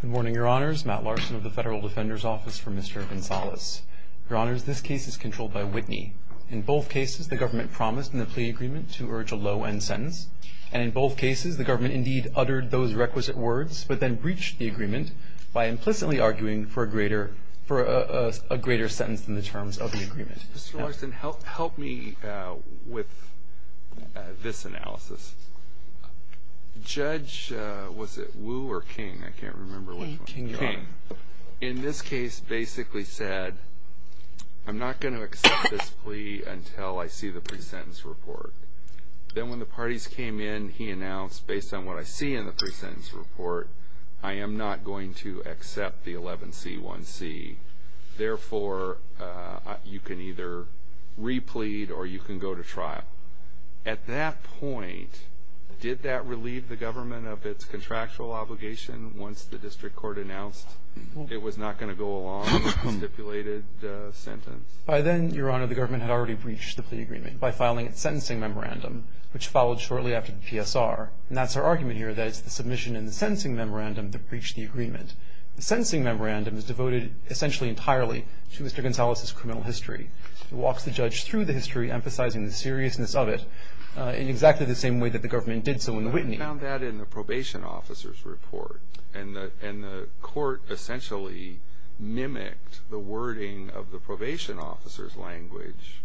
Good morning, Your Honors. Matt Larson of the Federal Defender's Office for Mr. Gonzalez. Your Honors, this case is controlled by Whitney. In both cases, the government promised in the plea agreement to urge a low-end sentence. And in both cases, the government indeed uttered those requisite words, but then breached the agreement by implicitly arguing for a greater sentence than the terms of the agreement. Mr. Larson, help me with this analysis. Judge, was it Wu or King? I can't remember which one. King. In this case, basically said, I'm not going to accept this plea until I see the pre-sentence report. Then when the parties came in, he announced, based on what I see in the pre-sentence report, I am not going to accept the 11C1C. Therefore, you can either replete or you can go to trial. At that point, did that relieve the government of its contractual obligation once the district court announced it was not going to go along with the stipulated sentence? By then, Your Honor, the government had already breached the plea agreement by filing its sentencing memorandum, which followed shortly after the PSR. And that's our argument here, that it's the submission and the sentencing memorandum that breached the agreement. The sentencing memorandum is devoted essentially entirely to Mr. Gonzalez's criminal history. It walks the judge through the process of it in exactly the same way that the government did so in the Whitney. I found that in the probation officer's report. And the court essentially mimicked the wording of the probation officer's language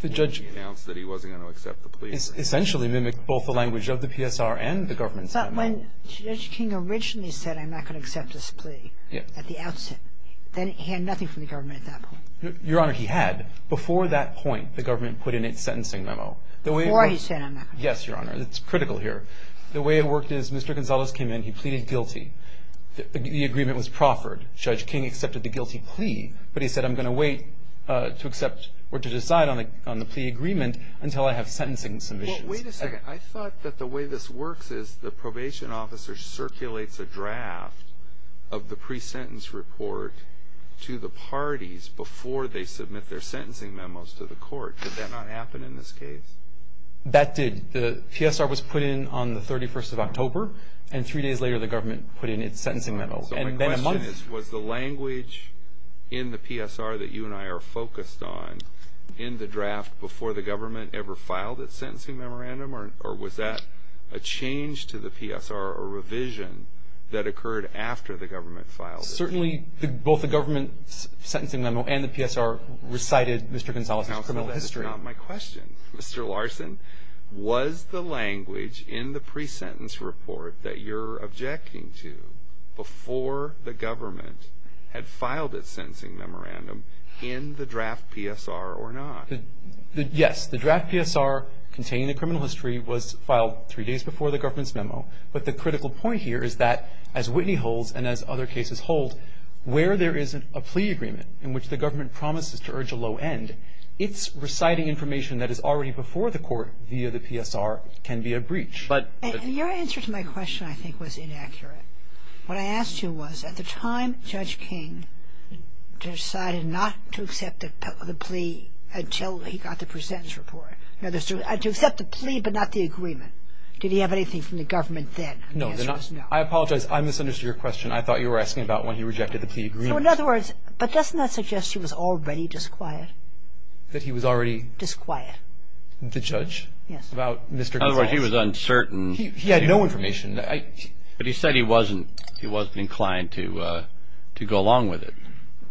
when he announced that he wasn't going to accept the plea. Essentially mimicked both the language of the PSR and the government's memo. But when Judge King originally said, I'm not going to accept this plea at the outset, then he had nothing from the government at that point. Your Honor, he had. Before that point, the government put in its sentencing memo. Before he sent a memo. Yes, Your Honor. It's critical here. The way it worked is Mr. Gonzalez came in. He pleaded guilty. The agreement was proffered. Judge King accepted the guilty plea. But he said, I'm going to wait to accept or to decide on the plea agreement until I have sentencing submissions. Wait a second. I thought that the way this works is the probation officer circulates a draft of the pre-sentence report to the parties before they submit their sentencing memos to the court. Did that not happen in this case? That did. The PSR was put in on the 31st of October. And three days later, the government put in its sentencing memo. So my question is, was the language in the PSR that you and I are focused on in the draft before the government ever filed its sentencing memorandum? Or was that a change to the PSR, a revision that occurred after the government filed it? Certainly, both the government's sentencing memo and the PSR recited Mr. Gonzalez's criminal history. Now, that's not my question. Mr. Larson, was the language in the pre-sentence report that you're objecting to before the government had filed its sentencing memorandum in the draft PSR or not? Yes, the draft PSR containing the criminal history was filed three days before the government's sentencing memorandum. And the critical point here is that, as Whitney holds and as other cases hold, where there isn't a plea agreement in which the government promises to urge a low end, its reciting information that is already before the court via the PSR can be a breach. But your answer to my question, I think, was inaccurate. What I asked you was, at the time, Judge King decided not to accept the plea until he got the pre-sentence report. To accept the plea but not the agreement. Did he have anything from the government then? No. I apologize. I misunderstood your question. I thought you were asking about when he rejected the plea agreement. So, in other words, but doesn't that suggest he was already disquiet? That he was already? Disquiet. The judge? Yes. About Mr. Gonzalez? In other words, he was uncertain. He had no information. But he said he wasn't inclined to go along with it.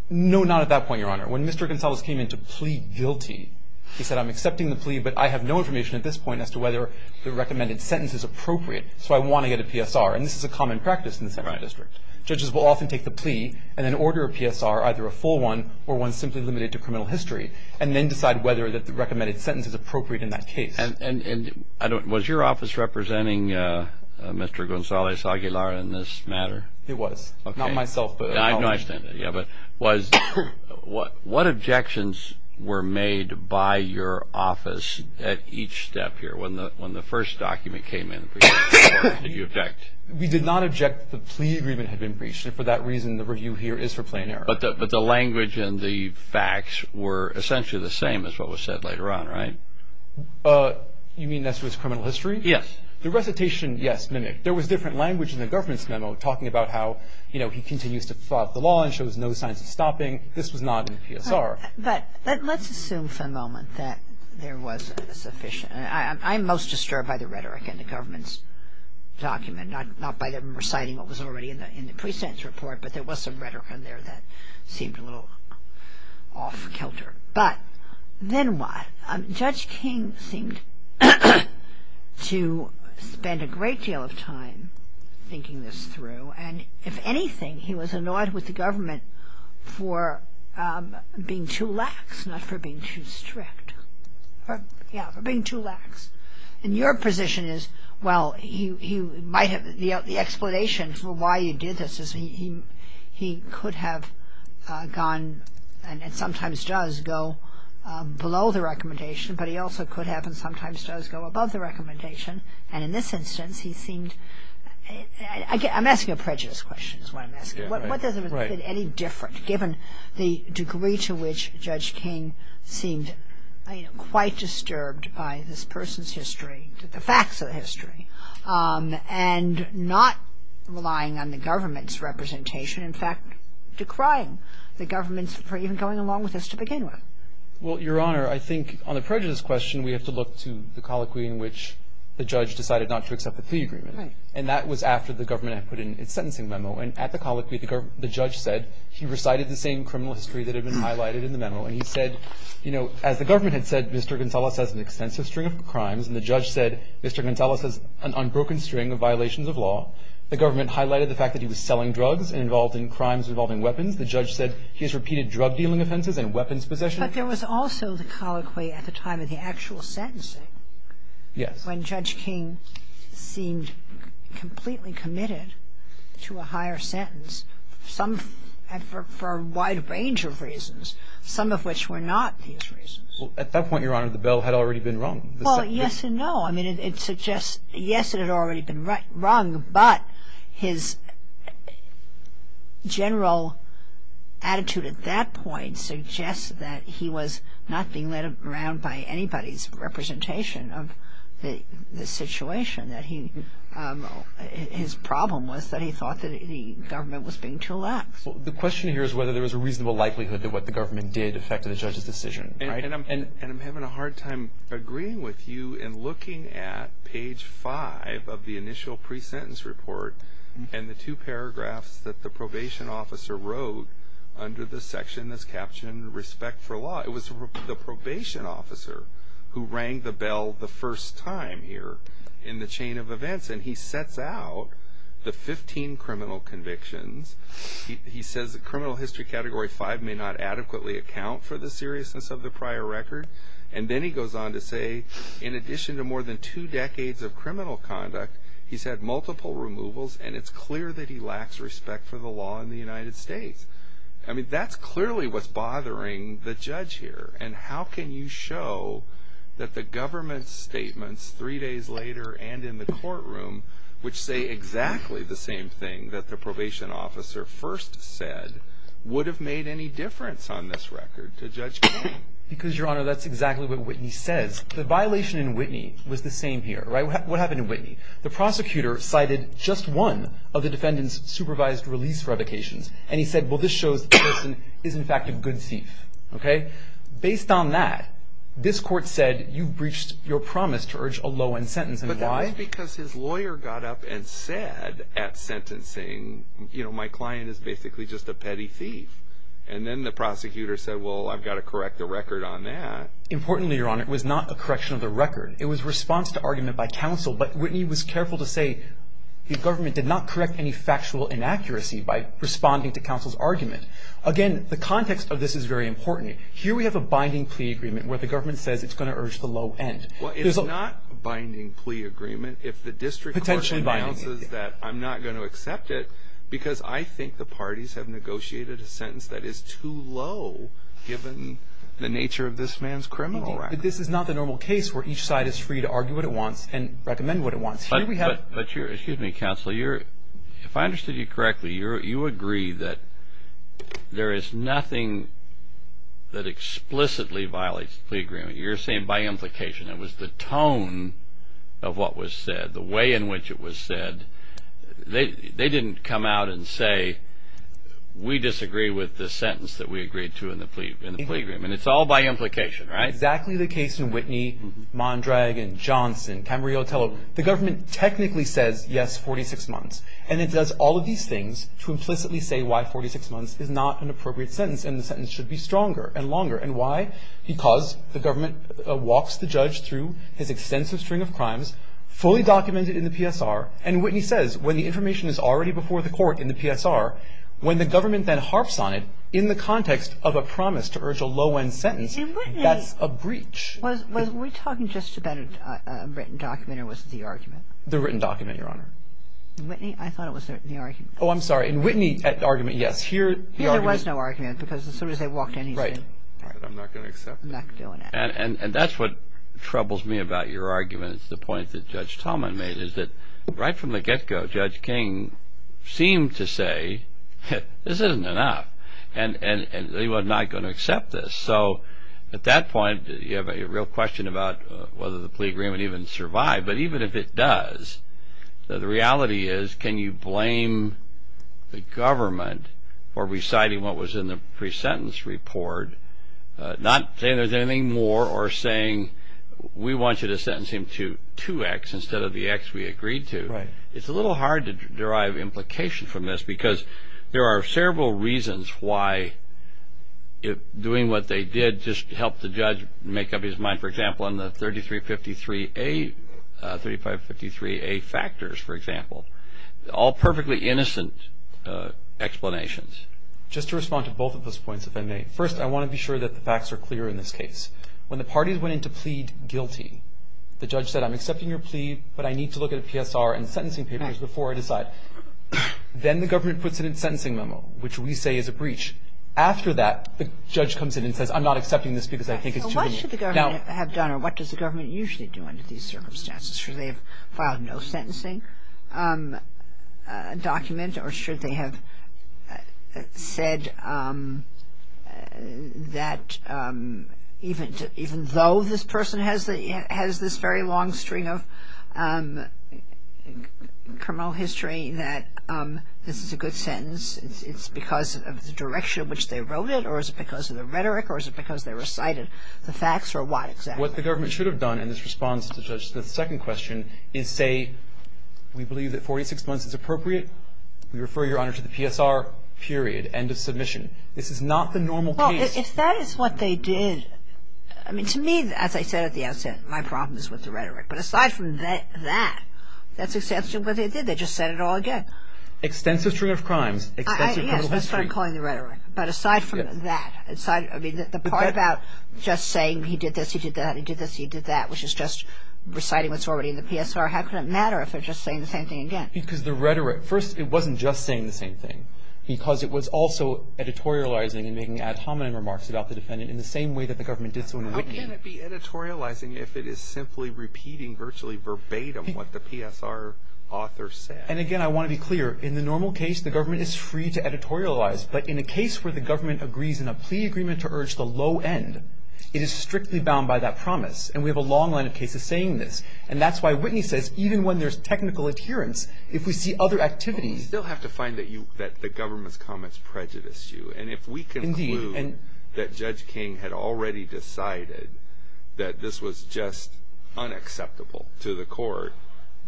No, not at that point, Your Honor. When Mr. Gonzalez came in to plea guilty, he said, I'm accepting the plea, but I have no information at this point as to whether the recommended sentence is appropriate. So I want to get a PSR. And this is a common practice in the Central District. Judges will often take the plea and then order a PSR, either a full one or one simply limited to criminal history, and then decide whether that the recommended sentence is appropriate in that case. And was your office representing Mr. Gonzalez Aguilar in this matter? It was. Not myself. Yeah, but what objections were made by your office at each step here when the first document came in? Did you object? We did not object. The plea agreement had been breached. And for that reason, the review here is for plain error. But the language and the facts were essentially the same as what was said later on, right? You mean this was criminal history? Yes. The recitation, yes. There was different language in the government's memo talking about how he continues to thwart the law and shows no signs of stopping. This was not in the PSR. But let's assume for a moment that there was a sufficient – I'm most disturbed by the rhetoric in the government's document, not by them reciting what was already in the pre-sentence report, but there was some rhetoric in there that seemed a little off-kilter. But then what? Judge King seemed to spend a great deal of time thinking this through. And if anything, he was annoyed with the government for being too lax, not for being too strict. Yeah, for being too lax. And your position is, well, he might have – the explanation for why he did this is he could have gone and sometimes does go below the recommendation, but he also could have and sometimes does go above the recommendation. And in this instance, he seemed – I'm asking a prejudice question is what I'm asking. Yeah, right. What doesn't make it any different, given the degree to which Judge King seemed quite disturbed by this person's history, the facts of the history, and not relying on the government's representation, in fact, decrying the government's for even going along with this to begin with? Well, Your Honor, I think on the prejudice question, we have to look to the colloquy in which the judge decided not to accept the free agreement. Right. And that was after the government had put in its sentencing memo. And at the colloquy, the judge said he recited the same criminal history that had been highlighted in the memo. And he said, you know, as the government had said, Mr. Gonzales has an extensive string of crimes. And the judge said Mr. Gonzales has an unbroken string of violations of law. The government highlighted the fact that he was selling drugs and involved in crimes involving weapons. The judge said he has repeated drug-dealing offenses and weapons possession. But there was also the colloquy at the time of the actual sentencing. Yes. When Judge King seemed completely committed to a higher sentence, for a wide range of reasons, some of which were not these reasons. At that point, Your Honor, the bill had already been wrung. Well, yes and no. I mean, it suggests, yes, it had already been wrung, but his general attitude at that point suggests that he was not being led around by anybody's representation of the situation, that his problem was that he thought that the government was being too lax. The question here is whether there was a reasonable likelihood that what the government did affected the judge's decision, right? And I'm having a hard time agreeing with you in looking at page five of the initial pre-sentence report and the two paragraphs that the probation officer wrote under the section that's captioned, Respect for Law. It was the probation officer who rang the bell the first time here in the chain of events, and he sets out the 15 criminal convictions. He says that criminal history category five may not adequately account for the seriousness of the prior record. And then he goes on to say, in addition to more than two decades of criminal conduct, he's had multiple removals, and it's clear that he lacks respect for the law in the United States. I mean, that's clearly what's bothering the judge here. And how can you show that the government's statements three days later and in the courtroom, which say exactly the same thing that the probation officer first said, would have made any difference on this record to Judge King? Because, Your Honor, that's exactly what Whitney says. The violation in Whitney was the same here, right? What happened in Whitney? The prosecutor cited just one of the defendant's supervised release revocations, and he said, well, this shows that the person is, in fact, a good thief, okay? Based on that, this court said you breached your promise to urge a low-end sentence, and why? But that was because his lawyer got up and said at sentencing, you know, my client is basically just a petty thief. And then the prosecutor said, well, I've got to correct the record on that. Importantly, Your Honor, it was not a correction of the record. It was response to argument by counsel. But Whitney was careful to say the government did not correct any factual inaccuracy by responding to counsel's argument. Again, the context of this is very important. Here we have a binding plea agreement where the government says it's going to urge the low end. Well, it's not a binding plea agreement if the district court announces that I'm not going to accept it because I think the parties have negotiated a sentence that is too low, given the nature of this man's criminal record. This is not the normal case where each side is free to argue what it wants and recommend what it wants. But here we have... But you're... Excuse me, counsel. If I understood you correctly, you agree that there is nothing that explicitly violates the plea agreement. You're saying by implication. It was the tone of what was said, the way in which it was said. They didn't come out and say, we disagree with the sentence that we agreed to in the plea agreement. It's all by implication, right? Exactly the case in Whitney, Mondragon, Johnson, Camarillo, Tello. The government technically says, yes, 46 months. And it does all of these things to implicitly say why 46 months is not an appropriate sentence and the sentence should be stronger and longer. And why? Because the government walks the judge through his extensive string of crimes, fully documented in the PSR. And Whitney says, when the information is already before the court in the PSR, when the government then harps on it in the context of a promise to urge a low end sentence, that's a breach. Was we talking just about a written document or was it the argument? The written document, Your Honor. In Whitney, I thought it was the argument. Oh, I'm sorry. In Whitney, that argument, yes. Here, the argument. Here, there was no argument because as soon as they walked in, he said, I'm not going to accept it. I'm not doing it. And that's what troubles me about your argument. It's the point that Judge Talman made, is that right from the get-go, Judge King seemed to say, this isn't enough. And they were not going to accept this. So at that point, you have a real question about whether the plea agreement even survived. But even if it does, the reality is, can you blame the government for reciting what was in the pre-sentence report, not saying there's anything more or saying, we want you to sentence him to 2X instead of the X we agreed to? Right. It's a little hard to derive implication from this because there are several reasons why doing what they did just helped the judge make up his mind. For example, in the 3353A, 3553A factors, for example, all perfectly innocent explanations. Just to respond to both of those points, if I may. First, I want to be sure that the facts are clear in this case. When the parties went in to plead guilty, the judge said, I'm accepting your plea, but I need to look at a PSR and sentencing papers before I decide. Then the government puts it in sentencing memo, which we say is a breach. After that, the judge comes in and says, I'm not accepting this because I think it's too immediate. What should the government have done or what does the government usually do under these circumstances? Should they have filed no sentencing document or should they have said that even though this person has this very long string of criminal history that this is a good sentence, it's because of the direction in which they wrote it or is it because of the rhetoric or is it because they recited the facts or what exactly? What the government should have done in this response to the second question is say, we believe that 46 months is appropriate. We refer your honor to the PSR, period, end of submission. This is not the normal case. If that is what they did, to me, as I said at the outset, my problem is with the rhetoric, but aside from that, that's exactly what they did. They just said it all again. Extensive string of crimes, extensive criminal history. Yes, that's what I'm calling the rhetoric, but aside from that, the part about just saying he did this, he did that, he did this, he did that, which is just reciting what's already in the PSR, how could it matter if they're just saying the same thing again? Because the rhetoric, first, it wasn't just saying the same thing because it was also editorializing and making ad hominem remarks about the defendant in the same way that the government did so in Whitney. How can it be editorializing if it is simply repeating virtually verbatim what the PSR author said? And again, I want to be clear. In the normal case, the government is free to editorialize, but in a case where the government agrees in a plea agreement to urge the low end, it is strictly bound by that promise. And we have a long line of cases saying this. And that's why Whitney says, even when there's technical adherence, if we see other activities- You still have to find that the government's comments prejudice you. Indeed. And if we conclude that Judge King had already decided that this was just unacceptable to the court,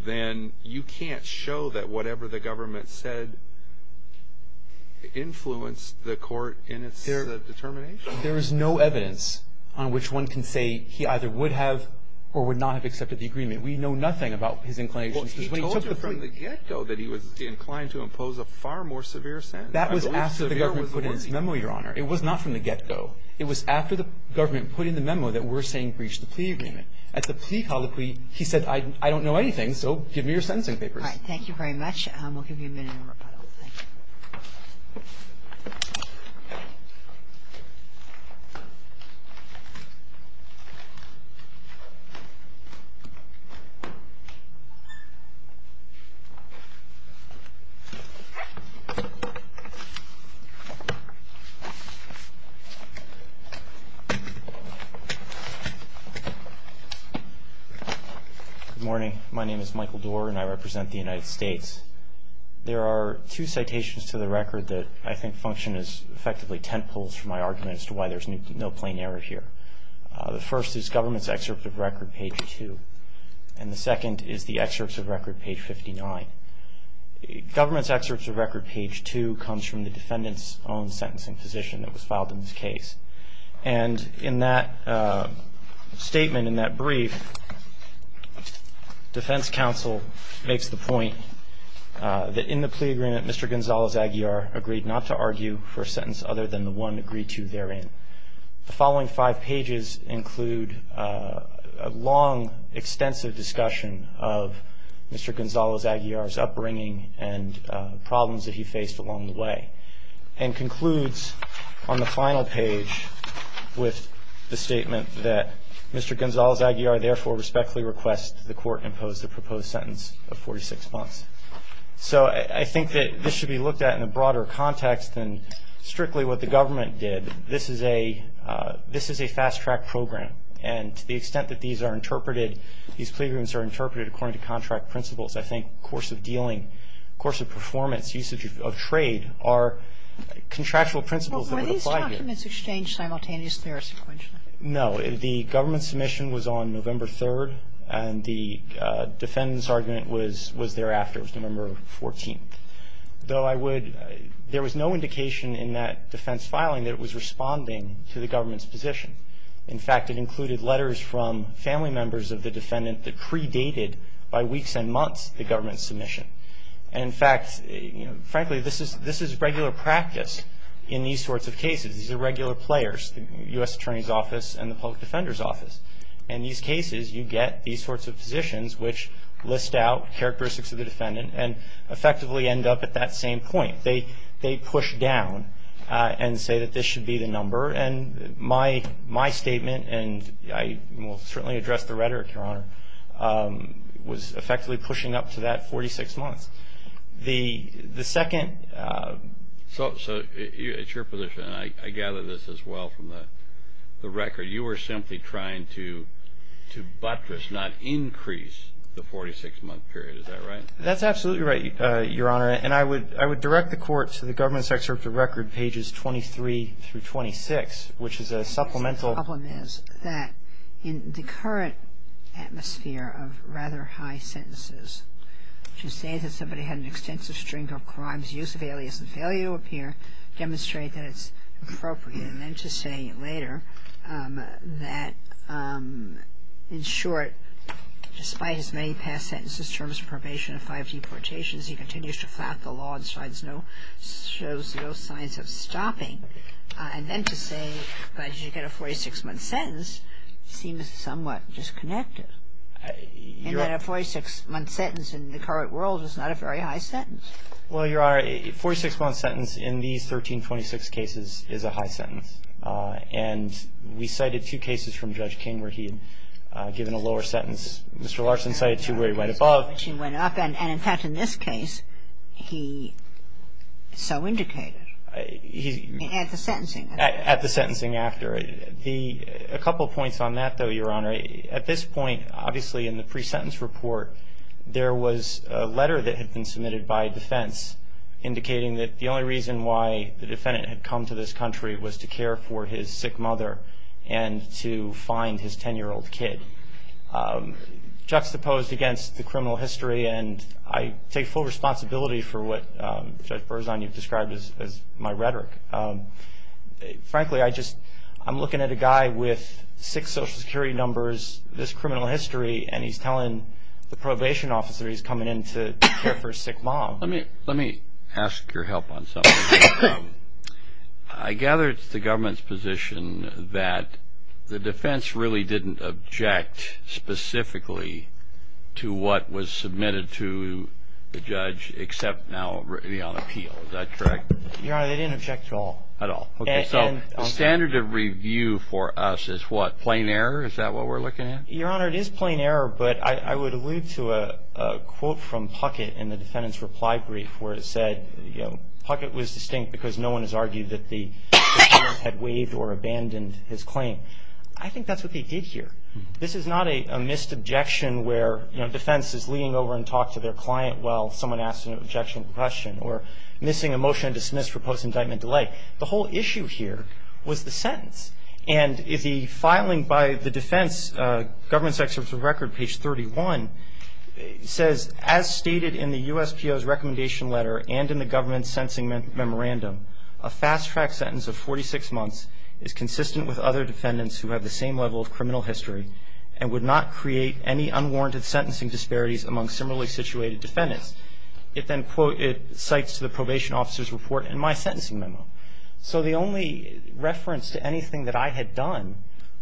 then you can't show that whatever the government said influenced the court in its determination. There is no evidence on which one can say he either would have or would not have accepted the agreement. We know nothing about his inclinations. He told you from the get-go that he was inclined to impose a far more severe sentence. That was after the government put in its memo, Your Honor. It was not from the get-go. It was after the government put in the memo that we're saying breach the plea agreement. At the plea colloquy, he said, I don't know anything, so give me your sentencing papers. All right. Thank you very much. We'll give you a minute in rebuttal. Thank you. Good morning. My name is Michael Doerr, and I represent the United States. There are two citations to the record that I think function as effectively tent poles for my argument as to why there's no plain error here. The first is government's excerpt of record, page two. And the second is the excerpt of record, page 59. Government's excerpt of record, page two, comes from the defendant's own sentencing position that was filed in this case. And in that statement, in that brief, defense counsel makes the point that in the plea agreement, Mr. Gonzalez-Aguiar agreed not to argue for a sentence other than the one agreed to therein. The following five pages include a long, extensive discussion of Mr. Gonzalez-Aguiar's upbringing and problems that he faced along the way. And concludes on the final page with the statement that Mr. Gonzalez-Aguiar therefore respectfully requests that the court impose the proposed sentence of 46 months. So I think that this should be looked at in a broader context than strictly what the government did. This is a fast-track program. And to the extent that these are interpreted, these plea agreements are interpreted according to contract principles. I think course of dealing, course of performance, usage of trade are contractual principles that would apply here. But were these documents exchanged simultaneously or sequentially? No. The government submission was on November 3rd. And the defendant's argument was thereafter. It was November 14th. Though I would, there was no indication in that defense filing that it was responding to the government's position. In fact, it included letters from family members of the defendant that predated by weeks and months the government's submission. And in fact, frankly, this is regular practice in these sorts of cases. These are regular players, the U.S. Attorney's Office and the Public Defender's Office. And these cases, you get these sorts of positions which list out characteristics of the defendant and effectively end up at that same point. They push down and say that this should be the number. And my statement, and I will certainly address the rhetoric, Your Honor, was effectively pushing up to that 46 months. The second- So it's your position, and I gather this as well from the record. You were simply trying to buttress, not increase, the 46-month period. Is that right? That's absolutely right, Your Honor. And I would direct the Court to the government's excerpt of record, pages 23 through 26, which is a supplemental- The problem is that in the current atmosphere of rather high sentences, to say that somebody had an extensive string of crimes, use of alias, and failure to appear demonstrate that it's appropriate. And then to say later that, in short, despite his many past sentences, terms of probation, five deportations, he continues to flap the law and shows no signs of stopping. And then to say that you get a 46-month sentence seems somewhat disconnected. And that a 46-month sentence in the current world is not a very high sentence. Well, Your Honor, a 46-month sentence in these 1326 cases is a high sentence. And we cited two cases from Judge King where he had given a lower sentence. Mr. Larson cited two where he went above. He went up. And in fact, in this case, he so indicated at the sentencing. At the sentencing after. A couple of points on that, though, Your Honor. At this point, obviously, in the pre-sentence report, there was a letter that had been submitted by defense indicating that the only reason why the defendant had come to this country was to care for his sick mother and to find his 10-year-old kid. Juxtaposed against the criminal history. And I take full responsibility for what Judge Berzon, you've described as my rhetoric. Frankly, I just, I'm looking at a guy with six Social Security numbers, this criminal history, and he's telling the probation officer he's coming in to care for his sick mom. Let me ask your help on something. I gather it's the government's position that the defense really didn't object specifically to what was submitted to the judge, except now on appeal. Is that correct? Your Honor, they didn't object at all. At all. So the standard of review for us is what? Plain error? Is that what we're looking at? Your Honor, it is plain error. But I would allude to a quote from Puckett in the defendant's reply brief where it said, Puckett was distinct because no one has argued that the defendant had waived or abandoned his claim. I think that's what they did here. This is not a missed objection where defense is leaning over and talking to their client while someone asks an objection or question, or missing a motion to dismiss for post-indictment delay. The whole issue here was the sentence. And the filing by the defense, government section of the record, page 31, says, as stated in the USPO's recommendation letter and in the government's sentencing memorandum, a fast-track sentence of 46 months is consistent with other defendants who have the same level of criminal history and would not create any unwarranted sentencing disparities among similarly situated defendants. It then, quote, it cites the probation officer's report in my sentencing memo. So the only reference to anything that I had done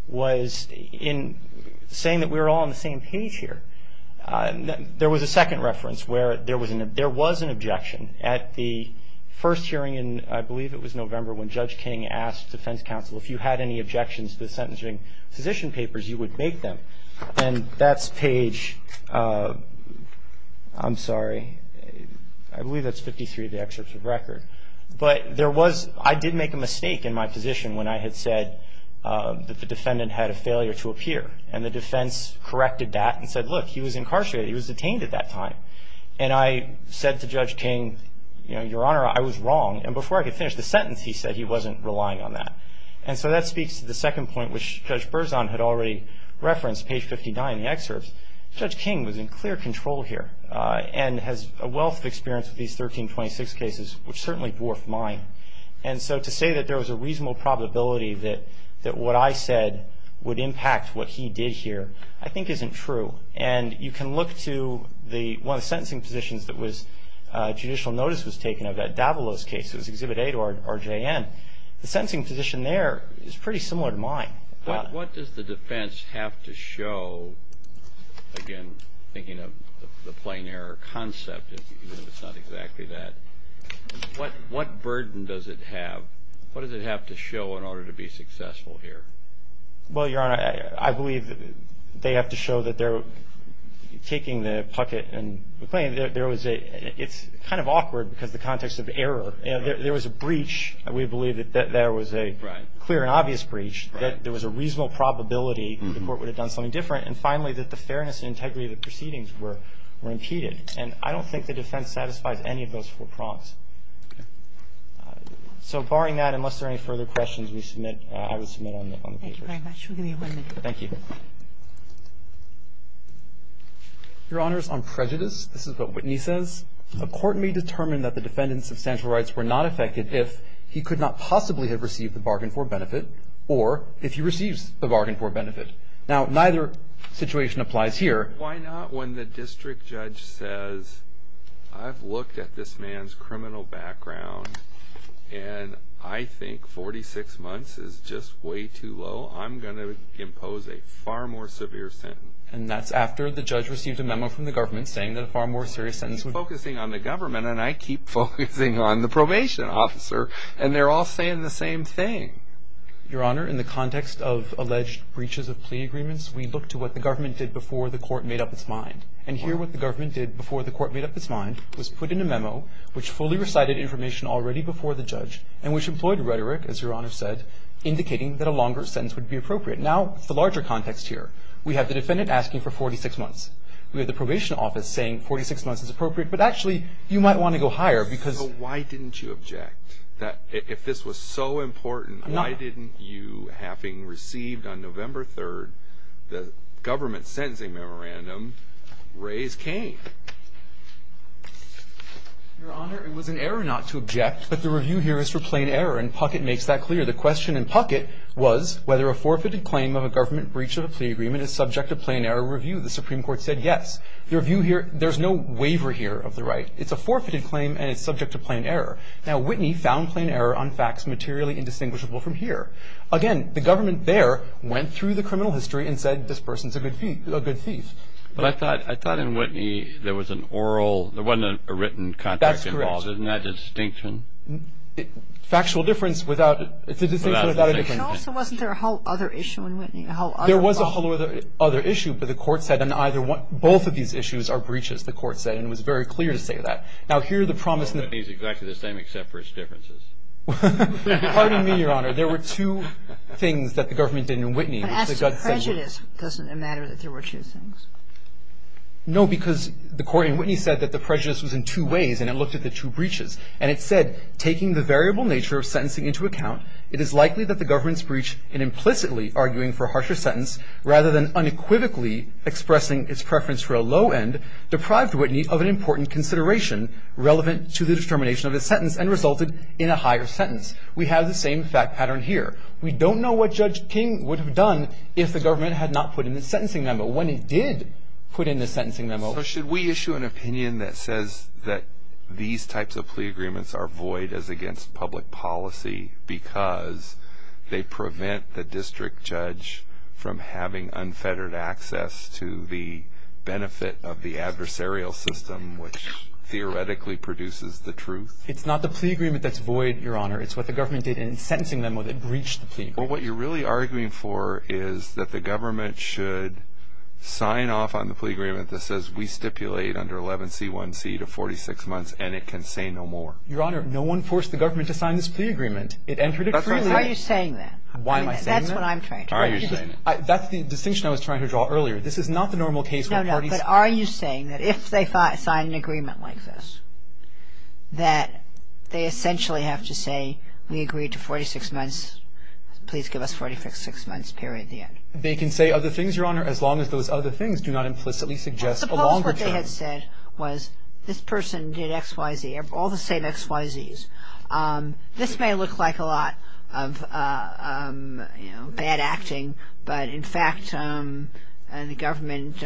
was in saying that we were all on the same page here. There was a second reference where there was an objection at the first hearing in, I believe it was November, when Judge King asked defense counsel if you had any objections to the sentencing position papers, you would make them. And that's page, I'm sorry, I believe that's 53 of the excerpts of record. But there was, I did make a mistake in my position when I had said that the defendant had a failure to appear. And the defense corrected that and said, look, he was incarcerated. He was detained at that time. And I said to Judge King, you know, Your Honor, I was wrong. And before I could finish the sentence, he said he wasn't relying on that. And so that speaks to the second point, which Judge Berzon had already referenced, page 59 in the excerpts. Judge King was in clear control here and has a wealth of experience with these 1326 cases, which certainly dwarfed mine. And so to say that there was a reasonable probability that what I said would impact what he did here, I think isn't true. And you can look to the, one of the sentencing positions that was, judicial notice was taken of that Davalos case. It was Exhibit 8 or JN. The sentencing position there is pretty similar to mine. But what does the defense have to show, again, thinking of the plain error concept, even if it's not exactly that, what burden does it have? What does it have to show in order to be successful here? Well, Your Honor, I believe that they have to show that they're taking the pucket and claiming that there was a, it's kind of awkward because the context of error. You know, there was a breach. We believe that there was a clear and obvious breach, that there was a reasonable probability the court would have done something different. And finally, that the fairness and integrity of the proceedings were impeded. And I don't think the defense satisfies any of those four prompts. So, barring that, unless there are any further questions, we submit, I would submit on the, on the papers. Thank you very much. We'll give you one minute. Thank you. Your Honors, on prejudice, this is what Whitney says. A court may determine that the defendant's substantial rights were not affected if he could not possibly have received the bargain for benefit or if he receives the bargain for benefit. Now, neither situation applies here. Why not when the district judge says, I've looked at this man's criminal record. I've looked at his criminal background. And I think 46 months is just way too low. I'm going to impose a far more severe sentence. And that's after the judge received a memo from the government saying that a far more serious sentence would. He's focusing on the government, and I keep focusing on the probation officer. And they're all saying the same thing. Your Honor, in the context of alleged breaches of plea agreements, we look to what the government did before the court made up its mind. And here, what the government did before the court made up its mind was put in a memo which fully recited information already before the judge and which employed rhetoric, as Your Honor said, indicating that a longer sentence would be appropriate. Now, it's the larger context here. We have the defendant asking for 46 months. We have the probation office saying 46 months is appropriate. But actually, you might want to go higher because. Why didn't you object? If this was so important, why didn't you, having received on November 3, the raise came? Your Honor, it was an error not to object. But the review here is for plain error, and Puckett makes that clear. The question in Puckett was whether a forfeited claim of a government breach of a plea agreement is subject to plain error review. The Supreme Court said yes. The review here, there's no waiver here of the right. It's a forfeited claim, and it's subject to plain error. Now, Whitney found plain error on facts materially indistinguishable from here. Again, the government there went through the criminal history and said this person's a good thief. But I thought in Whitney, there was an oral, there wasn't a written contract involved. Isn't that a distinction? Factual difference without a distinction. Also, wasn't there a whole other issue in Whitney? There was a whole other issue, but the court said both of these issues are breaches, the court said, and it was very clear to say that. Now, here the promise. Well, Whitney's exactly the same except for its differences. Pardon me, Your Honor. There were two things that the government did in Whitney. And as to prejudice, doesn't it matter that there were two things? No, because the court in Whitney said that the prejudice was in two ways, and it looked at the two breaches. And it said, taking the variable nature of sentencing into account, it is likely that the government's breach in implicitly arguing for a harsher sentence rather than unequivocally expressing its preference for a low end deprived Whitney of an important consideration relevant to the determination of a sentence and resulted in a higher sentence. We have the same fact pattern here. We don't know what Judge King would have done if the government had not put in the sentencing memo when it did put in the sentencing memo. So should we issue an opinion that says that these types of plea agreements are void as against public policy because they prevent the district judge from having unfettered access to the benefit of the adversarial system, which theoretically produces the truth? It's not the plea agreement that's void, Your Honor. It's what the government did in the sentencing memo that breached the plea agreement. But what you're really arguing for is that the government should sign off on the plea agreement that says we stipulate under 11C1C to 46 months, and it can say no more. Your Honor, no one forced the government to sign this plea agreement. It entered it freely. Are you saying that? Why am I saying that? That's what I'm trying to say. Are you saying that? That's the distinction I was trying to draw earlier. This is not the normal case. No, no. But are you saying that if they sign an agreement like this, that they essentially have to say we agree to 46 months, please give us 46 months period at the end? They can say other things, Your Honor, as long as those other things do not implicitly suggest a longer term. Suppose what they had said was this person did XYZ, all the same XYZs. This may look like a lot of bad acting, but in fact, the government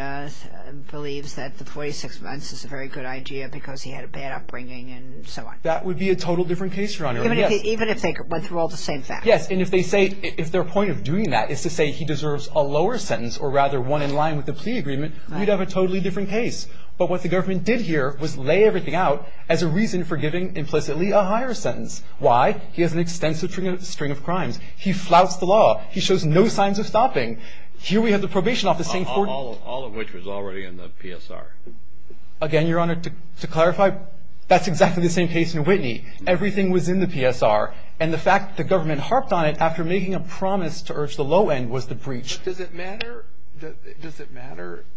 believes that the 46 months is a very good idea because he had a bad upbringing and so on. That would be a total different case, Your Honor. Even if they went through all the same facts? Yes. And if they say, if their point of doing that is to say he deserves a lower sentence or rather one in line with the plea agreement, we'd have a totally different case. But what the government did here was lay everything out as a reason for giving implicitly a higher sentence. Why? He has an extensive string of crimes. He flouts the law. He shows no signs of stopping. Here we have the probation office saying 40- All of which was already in the PSR. Again, Your Honor, to clarify, that's exactly the same case in Whitney. Everything was in the PSR. And the fact the government harped on it after making a promise to urge the low end was the breach. But does it matter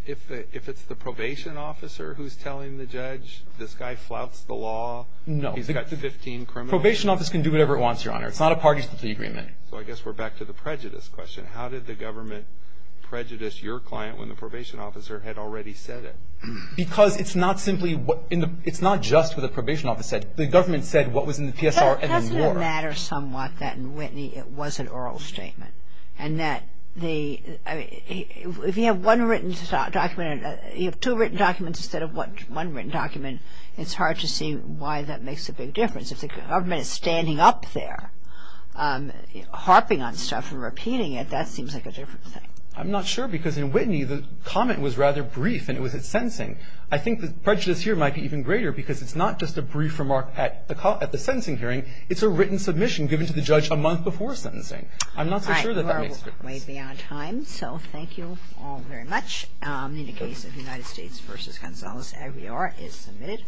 if it's the probation officer who's telling the judge, this guy flouts the law? No. He's got 15 criminals. Probation office can do whatever it wants, Your Honor. It's not a party to the plea agreement. So I guess we're back to the prejudice question. How did the government prejudice your client when the probation officer had already said it? Because it's not simply what in the- it's not just what the probation officer said. The government said what was in the PSR and then you are- Doesn't it matter somewhat that in Whitney it was an oral statement? And that the- if you have one written document- you have two written documents instead of one written document, it's hard to see why that makes a big difference. If the government is standing up there harping on stuff and repeating it, that seems like a different thing. I'm not sure. Because in Whitney, the comment was rather brief. And it was at sentencing. I think the prejudice here might be even greater because it's not just a brief remark at the call- at the sentencing hearing. It's a written submission given to the judge a month before sentencing. I'm not so sure that that makes a difference. All right. You are way beyond time. So thank you all very much. In the case of United States v. Gonzalez, Aguiar is submitted.